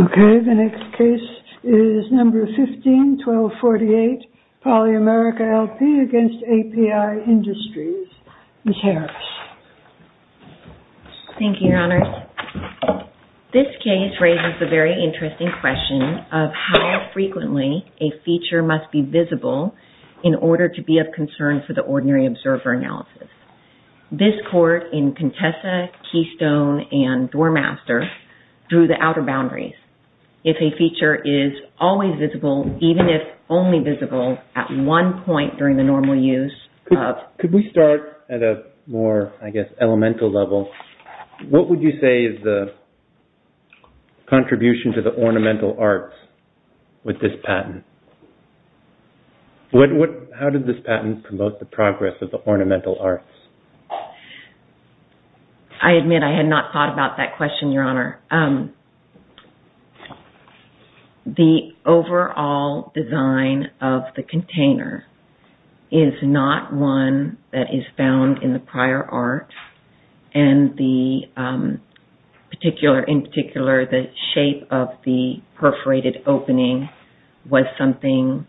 Okay, the next case is number 15-1248, Poly-America, L.P. v. API Industries, Inc. Thank you, Your Honors. This case raises the very interesting question of how frequently a feature must be visible in order to be of concern for the ordinary observer analysis. This court in Contessa, Keystone, and Doormaster drew the outer boundaries. If a feature is always visible, even if only visible at one point during the normal use of… Could we start at a more, I guess, elemental level? What would you say is the contribution to the ornamental arts with this patent? How did this patent promote the progress of the ornamental arts? I admit I had not thought about that question, Your Honor. The overall design of the container is not one that is found in the prior art, and in particular, the shape of the perforated opening was something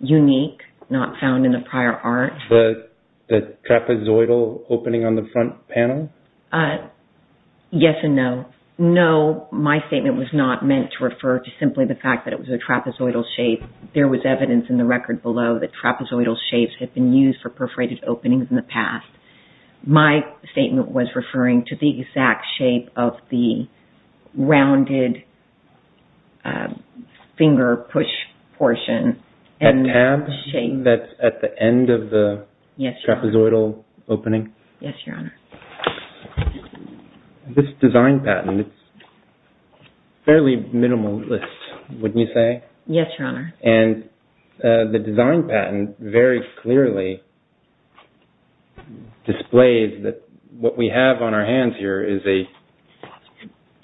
unique, not found in the prior art. The trapezoidal opening on the front panel? Yes and no. No, my statement was not meant to refer to simply the fact that it was a trapezoidal shape. There was evidence in the record below that trapezoidal shapes had been used for perforated openings in the past. My statement was referring to the exact shape of the rounded finger push portion. The tab that's at the end of the trapezoidal opening? Yes, Your Honor. This design patent is fairly minimalist, wouldn't you say? Yes, Your Honor. And the design patent very clearly displays that what we have on our hands here is a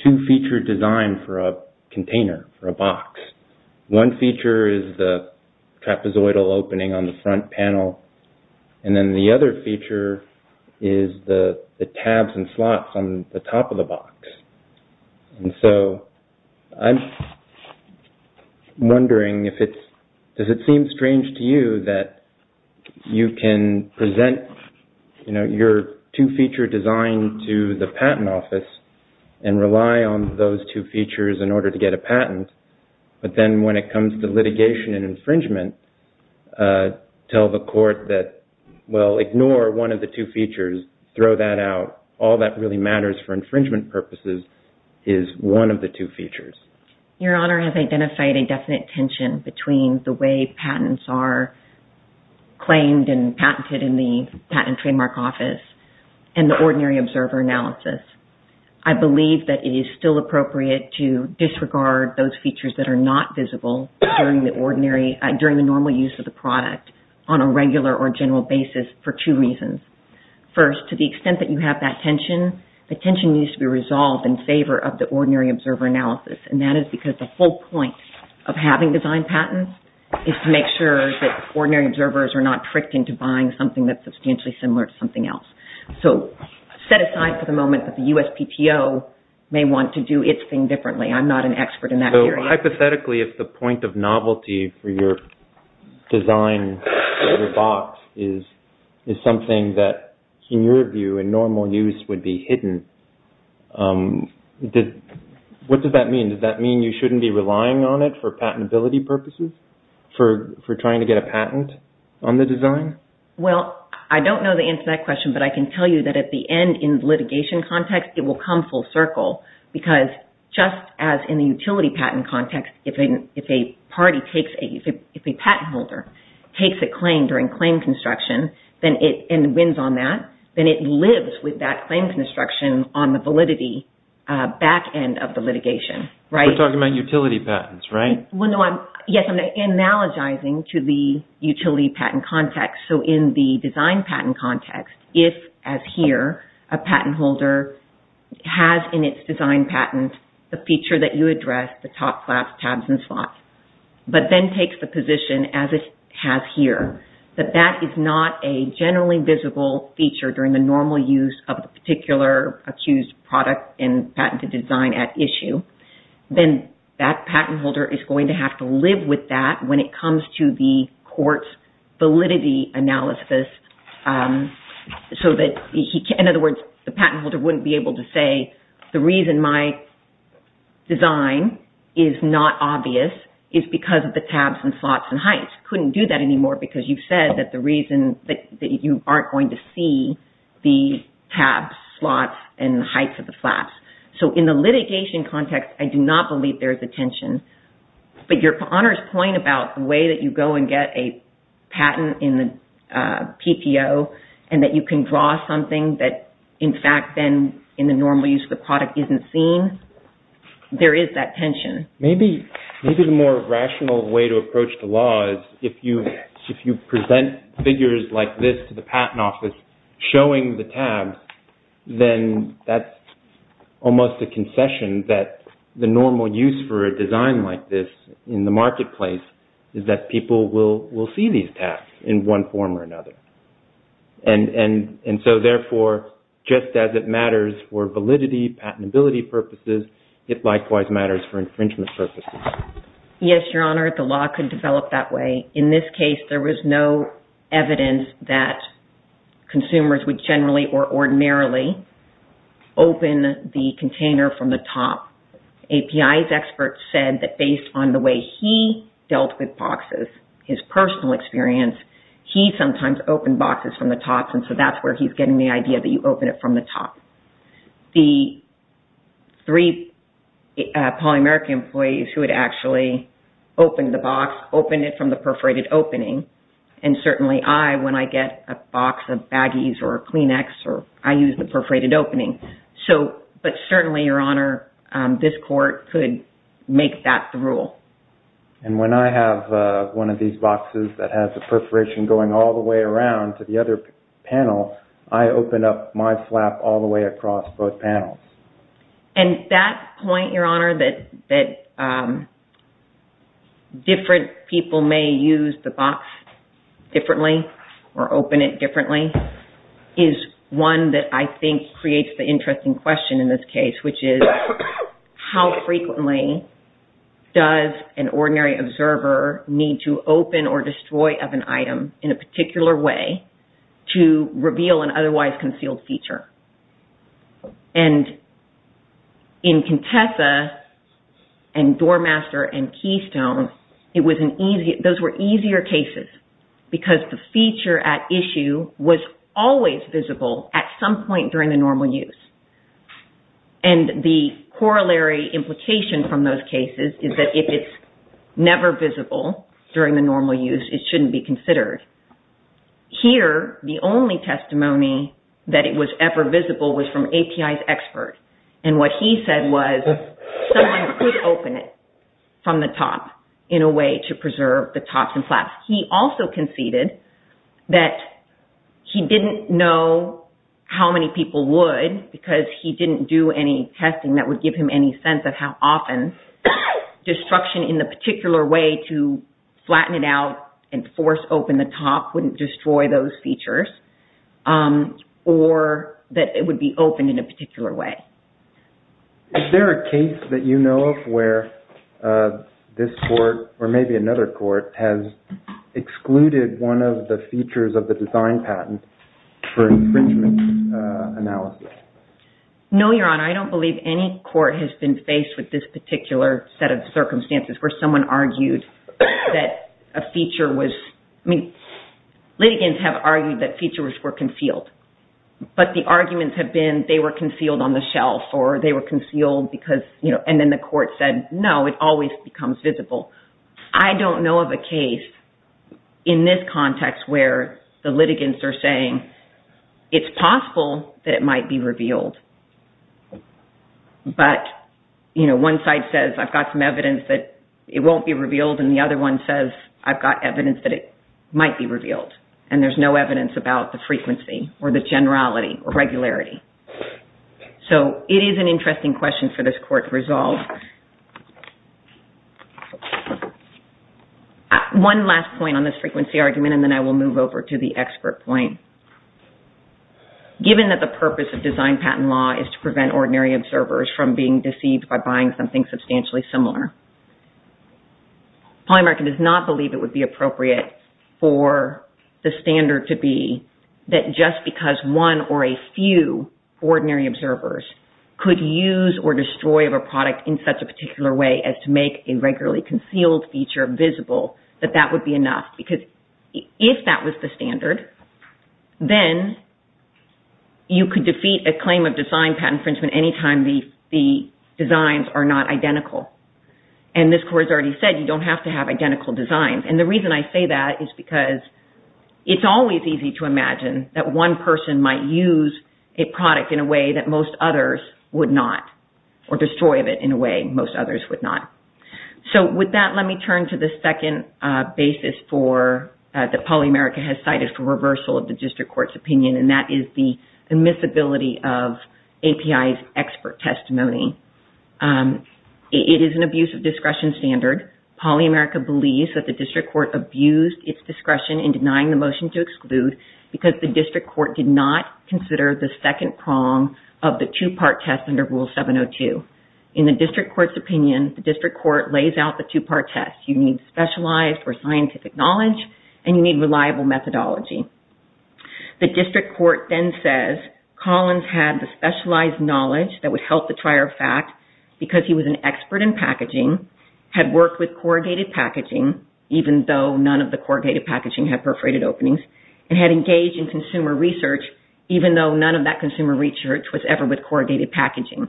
two-feature design for a container, for a box. One feature is the trapezoidal opening on the front panel, and then the other feature is the tabs and slots on the top of the box. I'm wondering, does it seem strange to you that you can present your two-feature design to the patent office and rely on those two features in order to get a patent, but then when it comes to litigation and infringement, tell the court that, well, ignore one of the two features, throw that out. All that really matters for infringement purposes is one of the two features. Your Honor has identified a definite tension between the way patents are claimed and patented in the Patent and Trademark Office and the ordinary observer analysis. I believe that it is still appropriate to disregard those features that are not visible during the normal use of the product on a regular or general basis for two reasons. First, to the extent that you have that tension, the tension needs to be resolved in favor of the ordinary observer analysis, and that is because the whole point of having design patents is to make sure that ordinary observers are not tricked into buying something that's substantially similar to something else. So, set aside for the moment that the USPTO may want to do its thing differently. I'm not an expert in that area. So, hypothetically, if the point of novelty for your design or your box is something that, in your view, in normal use would be hidden, what does that mean? Does that mean you shouldn't be relying on it for patentability purposes, for trying to get a patent on the design? Well, I don't know the answer to that question, but I can tell you that at the end in litigation context, it will come full circle, because just as in the utility patent context, if a patent holder takes a claim during claim construction and wins on that, then it lives with that claim construction on the validity back end of the litigation. We're talking about utility patents, right? Yes, I'm analogizing to the utility patent context. So, in the design patent context, if, as here, a patent holder has in its design patent the feature that you addressed, the top flaps, tabs, and slots, but then takes the position, as it has here, that that is not a generally visible feature during the normal use of the particular accused product in patented design at issue, then that patent holder is going to have to live with that when it comes to the court's validity analysis, so that, in other words, the patent holder wouldn't be able to say, the reason my design is not obvious is because of the tabs and slots and heights. Couldn't do that anymore, because you've said that the reason that you aren't going to see the tabs, slots, and heights of the flaps. So, in the litigation context, I do not believe there is a tension. But your honor's point about the way that you go and get a patent in the PPO, and that you can draw something that, in fact, then, in the normal use of the product, isn't seen, there is that tension. Maybe the more rational way to approach the law is, if you present figures like this to the patent office, showing the tabs, then that's almost a concession that the normal use for a design like this in the marketplace is that people will see these tabs in one form or another. And so, therefore, just as it matters for validity, patentability purposes, it likewise matters for infringement purposes. Yes, your honor. The law could develop that way. In this case, there was no evidence that consumers would generally or ordinarily open the container from the top. API's experts said that based on the way he dealt with boxes, his personal experience, he sometimes opened boxes from the top, and so that's where he's getting the idea that you open it from the top. The three polymeric employees who had actually opened the box, opened it from the perforated opening, and certainly I, when I get a box of baggies or Kleenex, I use the perforated opening. But certainly, your honor, this court could make that the rule. And when I have one of these boxes that has the perforation going all the way around to the other panel, I open up my flap all the way across both panels. And that point, your honor, that different people may use the box differently or open it differently, is one that I think creates the interesting question in this case, which is how frequently does an ordinary observer need to open or destroy of an item in a particular way to reveal an otherwise concealed feature? And in Contessa and Doormaster and Keystone, those were easier cases because the feature at issue was always visible at some point during the normal use. And the corollary implication from those cases is that if it's never visible during the normal use, it shouldn't be considered. Here, the only testimony that it was ever visible was from API's expert. And what he said was someone could open it from the top in a way to preserve the tops and flaps. He also conceded that he didn't know how many people would because he didn't do any testing that would give him any sense of how often destruction in the particular way to flatten it out and force open the top wouldn't destroy those features, or that it would be opened in a particular way. Is there a case that you know of where this court, or maybe another court, has excluded one of the features of the design patent for infringement analysis? No, Your Honor. I don't believe any court has been faced with this particular set of circumstances where someone argued that a feature was – I mean, litigants have argued that features were concealed. But the arguments have been they were concealed on the shelf, or they were concealed because – and then the court said, no, it always becomes visible. I don't know of a case in this context where the litigants are saying it's possible that it might be revealed, but one side says I've got some evidence that it won't be revealed and the other one says I've got evidence that it might be revealed, and there's no evidence about the frequency or the generality or regularity. So it is an interesting question for this court to resolve. One last point on this frequency argument, and then I will move over to the expert point. Given that the purpose of design patent law is to prevent ordinary observers from being deceived by buying something substantially similar, Polymerica does not believe it would be appropriate for the standard to be that just because one or a few ordinary observers could use or destroy a product in such a particular way as to make a regularly concealed feature visible, that that would be enough, because if that was the standard, then you could defeat a claim of design patent infringement anytime the designs are not identical. And this court has already said you don't have to have identical designs. And the reason I say that is because it's always easy to imagine that one person might use a product in a way that most others would not, or destroy it in a way most others would not. So with that, let me turn to the second basis that Polymerica has cited for reversal of the district court's opinion, and that is the admissibility of API's expert testimony. It is an abuse of discretion standard. Polymerica believes that the district court abused its discretion in denying the motion to exclude because the district court did not consider the second prong of the two-part test under Rule 702. In the district court's opinion, the district court lays out the two-part test. You need specialized or scientific knowledge, and you need reliable methodology. The district court then says Collins had the specialized knowledge that would help the trier of fact because he was an expert in packaging, had worked with corrugated packaging, even though none of the corrugated packaging had perforated openings, and had engaged in consumer research even though none of that consumer research was ever with corrugated packaging.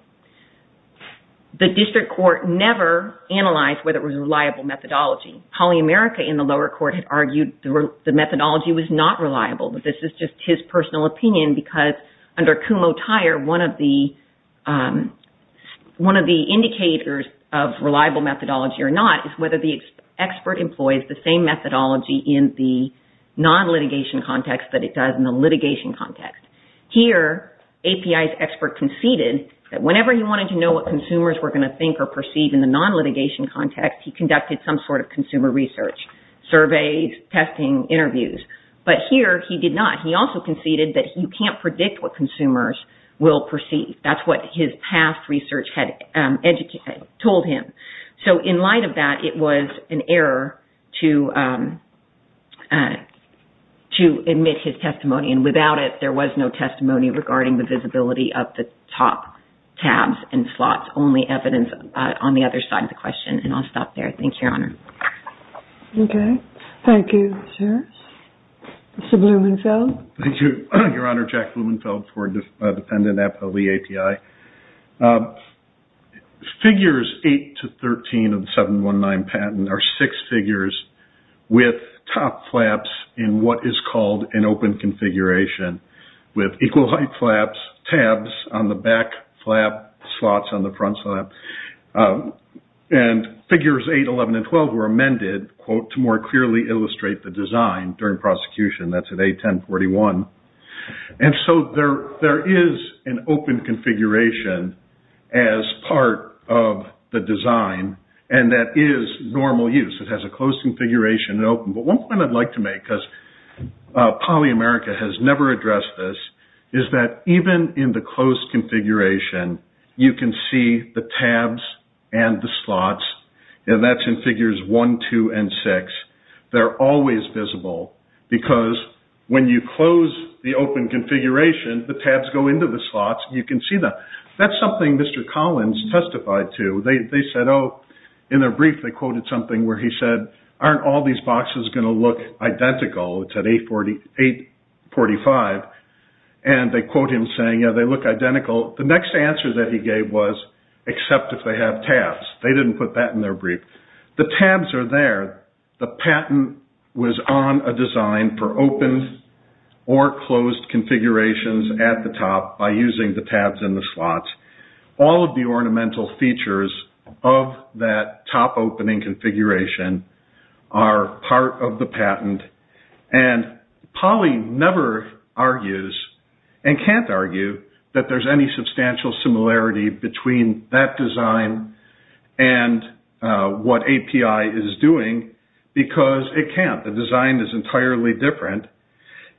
The district court never analyzed whether it was reliable methodology. Polymerica in the lower court had argued the methodology was not reliable, but this is just his personal opinion because under Kumho-Tier, one of the indicators of reliable methodology or not is whether the expert employs the same methodology in the non-litigation context that it does in the litigation context. Here, API's expert conceded that whenever he wanted to know what consumers were going to think or perceive in the non-litigation context, he conducted some sort of consumer research, surveys, testing, interviews. But here, he did not. He also conceded that you can't predict what consumers will perceive. That's what his past research had told him. In light of that, it was an error to admit his testimony. Without it, there was no testimony regarding the visibility of the top tabs and slots, only evidence on the other side of the question. I'll stop there. Thank you, Your Honor. Okay. Thank you, Sarah. Mr. Blumenfeld? Thank you, Your Honor. Jack Blumenfeld for Dependent FOB API. Figures 8 to 13 of the 719 patent are six figures with top flaps in what is called an open configuration with equal height flaps, tabs on the back flap, slots on the front flap. Figures 8, 11, and 12 were amended to more clearly illustrate the design during prosecution. That's at A1041. There is an open configuration as part of the design, and that is normal use. It has a closed configuration and open. But one point I'd like to make, because PolyAmerica has never addressed this, is that even in the closed configuration, you can see the tabs and the slots. And that's in figures 1, 2, and 6. They're always visible, because when you close the open configuration, the tabs go into the slots, and you can see them. That's something Mr. Collins testified to. They said, oh, in their brief, they quoted something where he said, aren't all these boxes going to look identical? It's at 845. And they quote him saying, yeah, they look identical. The next answer that he gave was, except if they have tabs. They didn't put that in their brief. The tabs are there. The patent was on a design for open or closed configurations at the top by using the tabs and the slots. All of the ornamental features of that top opening configuration are part of the patent. And Poly never argues and can't argue that there's any substantial similarity between that design and what API is doing, because it can't. The design is entirely different.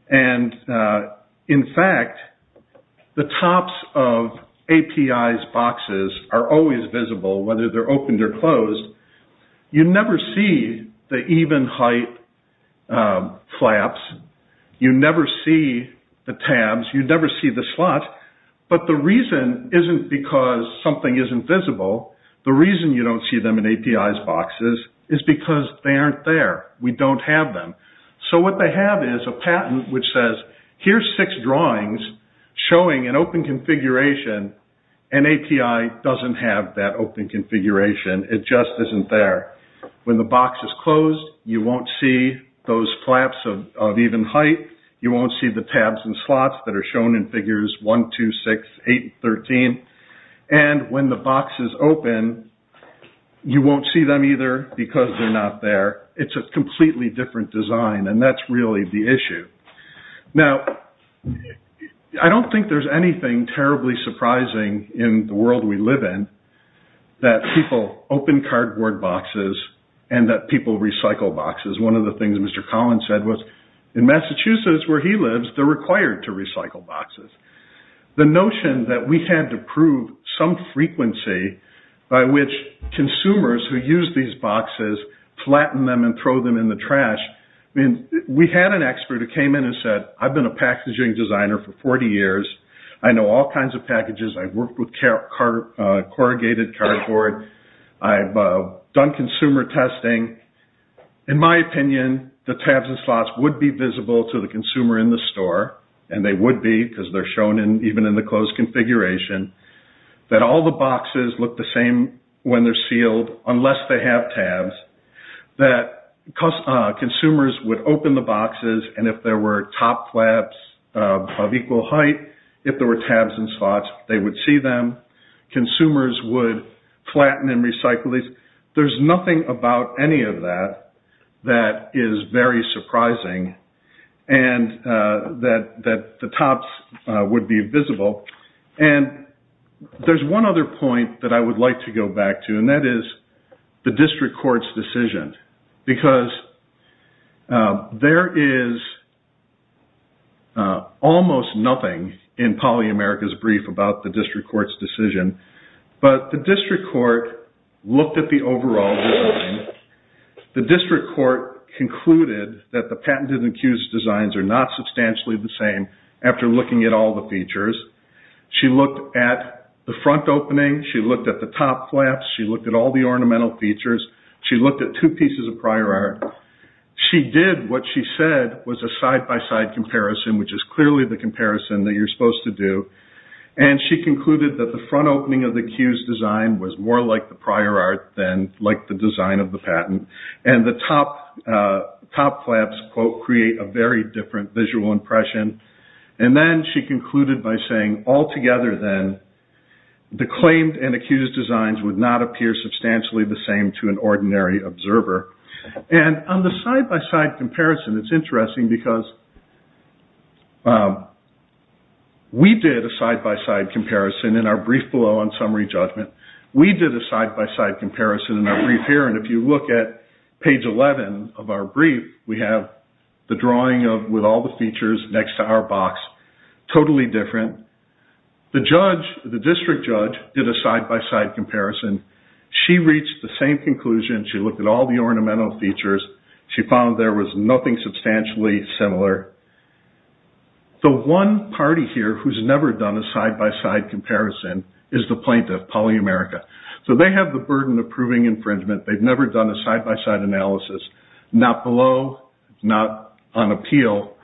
And in fact, the tops of API's boxes are always visible, whether they're opened or closed. You never see the even height flaps. You never see the tabs. You never see the slots. But the reason isn't because something isn't visible. The reason you don't see them in API's boxes is because they aren't there. We don't have them. So what they have is a patent which says, here's six drawings showing an open configuration, and API doesn't have that open configuration. It just isn't there. When the box is closed, you won't see those flaps of even height. You won't see the tabs and slots that are shown in figures 1, 2, 6, 8, and 13. And when the box is open, you won't see them either because they're not there. It's a completely different design, and that's really the issue. Now, I don't think there's anything terribly surprising in the world we live in, that people open cardboard boxes and that people recycle boxes. One of the things Mr. Collins said was, in Massachusetts, where he lives, they're required to recycle boxes. The notion that we had to prove some frequency by which consumers who use these boxes flatten them and throw them in the trash. We had an expert who came in and said, I've been a packaging designer for 40 years. I know all kinds of packages. I've worked with corrugated cardboard. I've done consumer testing. In my opinion, the tabs and slots would be visible to the consumer in the store, and they would be because they're shown even in the closed configuration, that all the boxes look the same when they're sealed unless they have tabs, that consumers would open the boxes, and if there were top flaps of equal height, if there were tabs and slots, they would see them. Consumers would flatten and recycle these. There's nothing about any of that that is very surprising, and that the tops would be visible. There's one other point that I would like to go back to, and that is the district court's decision, because there is almost nothing in PolyAmerica's brief about the district court's decision, but the district court looked at the overall design. The district court concluded that the patented and accused designs are not substantially the same after looking at all the features. She looked at the front opening. She looked at the top flaps. She looked at all the ornamental features. She looked at two pieces of prior art. She did what she said was a side-by-side comparison, which is clearly the comparison that you're supposed to do, and she concluded that the front opening of the accused design was more like the prior art than like the design of the patent, and the top flaps, quote, create a very different visual impression. And then she concluded by saying, altogether then, the claimed and accused designs would not appear substantially the same to an ordinary observer. And on the side-by-side comparison, it's interesting, because we did a side-by-side comparison in our brief below on summary judgment. We did a side-by-side comparison in our brief here, and if you look at page 11 of our brief, we have the drawing with all the features next to our box, totally different. The judge, the district judge, did a side-by-side comparison. She reached the same conclusion. She looked at all the ornamental features. She found there was nothing substantially similar. The one party here who's never done a side-by-side comparison is the plaintiff, PolyAmerica. So they have the burden of proving infringement. They've never done a side-by-side analysis, not below, not on appeal.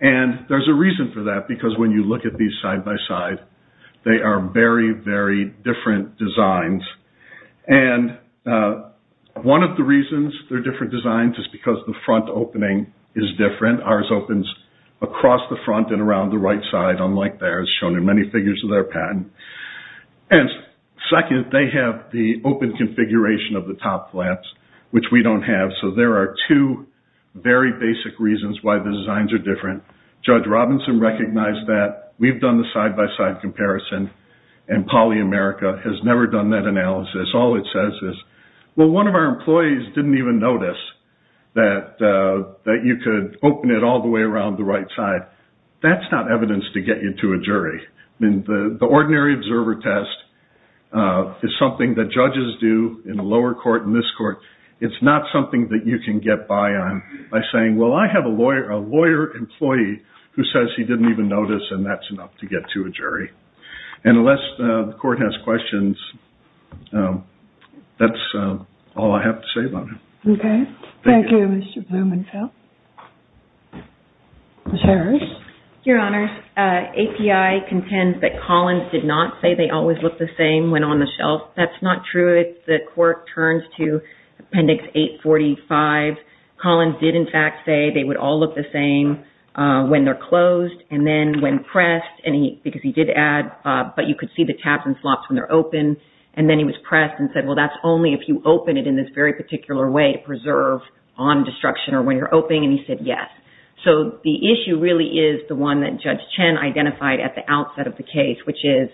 And there's a reason for that, because when you look at these side-by-side, they are very, very different designs. And one of the reasons they're different designs is because the front opening is different. Ours opens across the front and around the right side, unlike theirs, shown in many figures of their patent. And second, they have the open configuration of the top flaps, which we don't have. So there are two very basic reasons why the designs are different. Judge Robinson recognized that. We've done the side-by-side comparison, and PolyAmerica has never done that analysis. All it says is, well, one of our employees didn't even notice that you could open it all the way around the right side. That's not evidence to get you to a jury. The ordinary observer test is something that judges do in a lower court, in this court. It's not something that you can get by on by saying, well, I have a lawyer employee who says he didn't even notice, and that's enough to get to a jury. And unless the court has questions, that's all I have to say about it. Okay. Thank you, Mr. Blumenfeld. Ms. Harris? Your Honors, API contends that Collins did not say they always look the same when on the shelf. That's not true. The court turns to Appendix 845. Collins did, in fact, say they would all look the same when they're closed and then when pressed, because he did add, but you could see the tabs and slots when they're open. And then he was pressed and said, well, that's only if you open it in this very particular way to preserve on destruction or when you're opening, and he said yes. So the issue really is the one that Judge Chen identified at the outset of the case, which is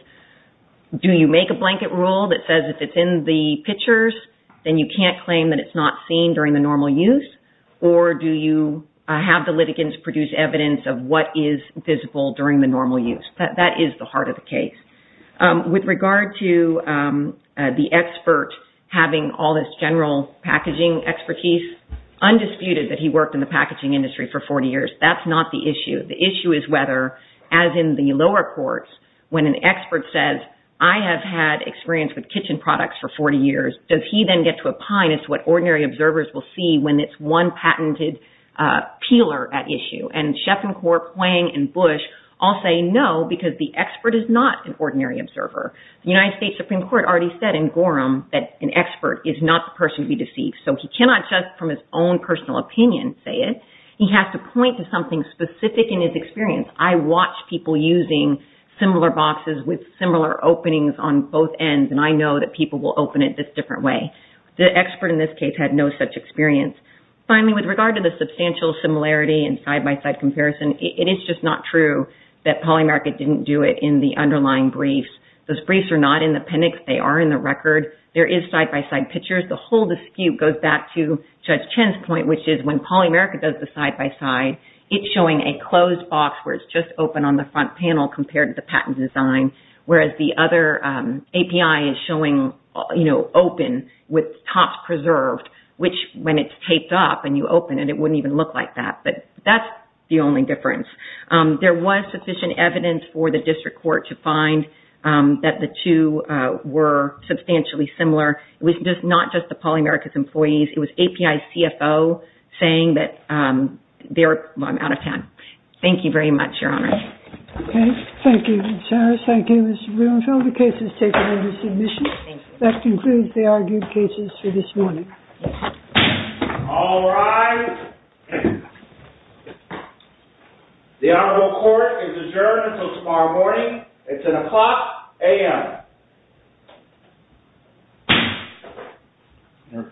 do you make a blanket rule that says if it's in the pictures, then you can't claim that it's not seen during the normal use, or do you have the litigants produce evidence of what is visible during the normal use? That is the heart of the case. With regard to the expert having all this general packaging expertise, it's undisputed that he worked in the packaging industry for 40 years. That's not the issue. The issue is whether, as in the lower courts, when an expert says, I have had experience with kitchen products for 40 years, does he then get to opine as to what ordinary observers will see when it's one patented peeler at issue? And Sheff and Kaur, Pwang and Bush all say no, because the expert is not an ordinary observer. The United States Supreme Court already said in Gorham that an expert is not the person to be deceived. So he cannot just, from his own personal opinion, say it. He has to point to something specific in his experience. I watch people using similar boxes with similar openings on both ends, and I know that people will open it this different way. The expert in this case had no such experience. Finally, with regard to the substantial similarity and side-by-side comparison, it is just not true that Polymerica didn't do it in the underlying briefs. Those briefs are not in the appendix. They are in the record. There is side-by-side pictures. The whole dispute goes back to Judge Chen's point, which is when Polymerica does the side-by-side, it's showing a closed box where it's just open on the front panel compared to the patent design, whereas the other API is showing open with tops preserved, which when it's taped up and you open it, it wouldn't even look like that. But that's the only difference. There was sufficient evidence for the district court to find that the two were substantially similar. It was not just the Polymerica's employees. It was API's CFO saying that they were out of town. Thank you very much, Your Honor. Okay. Thank you, Ms. Harris. Thank you, Mr. Greenfield. The case is taken into submission. Thank you. That concludes the argued cases for this morning. All rise. The honorable court is adjourned until tomorrow morning. It's an o'clock a.m.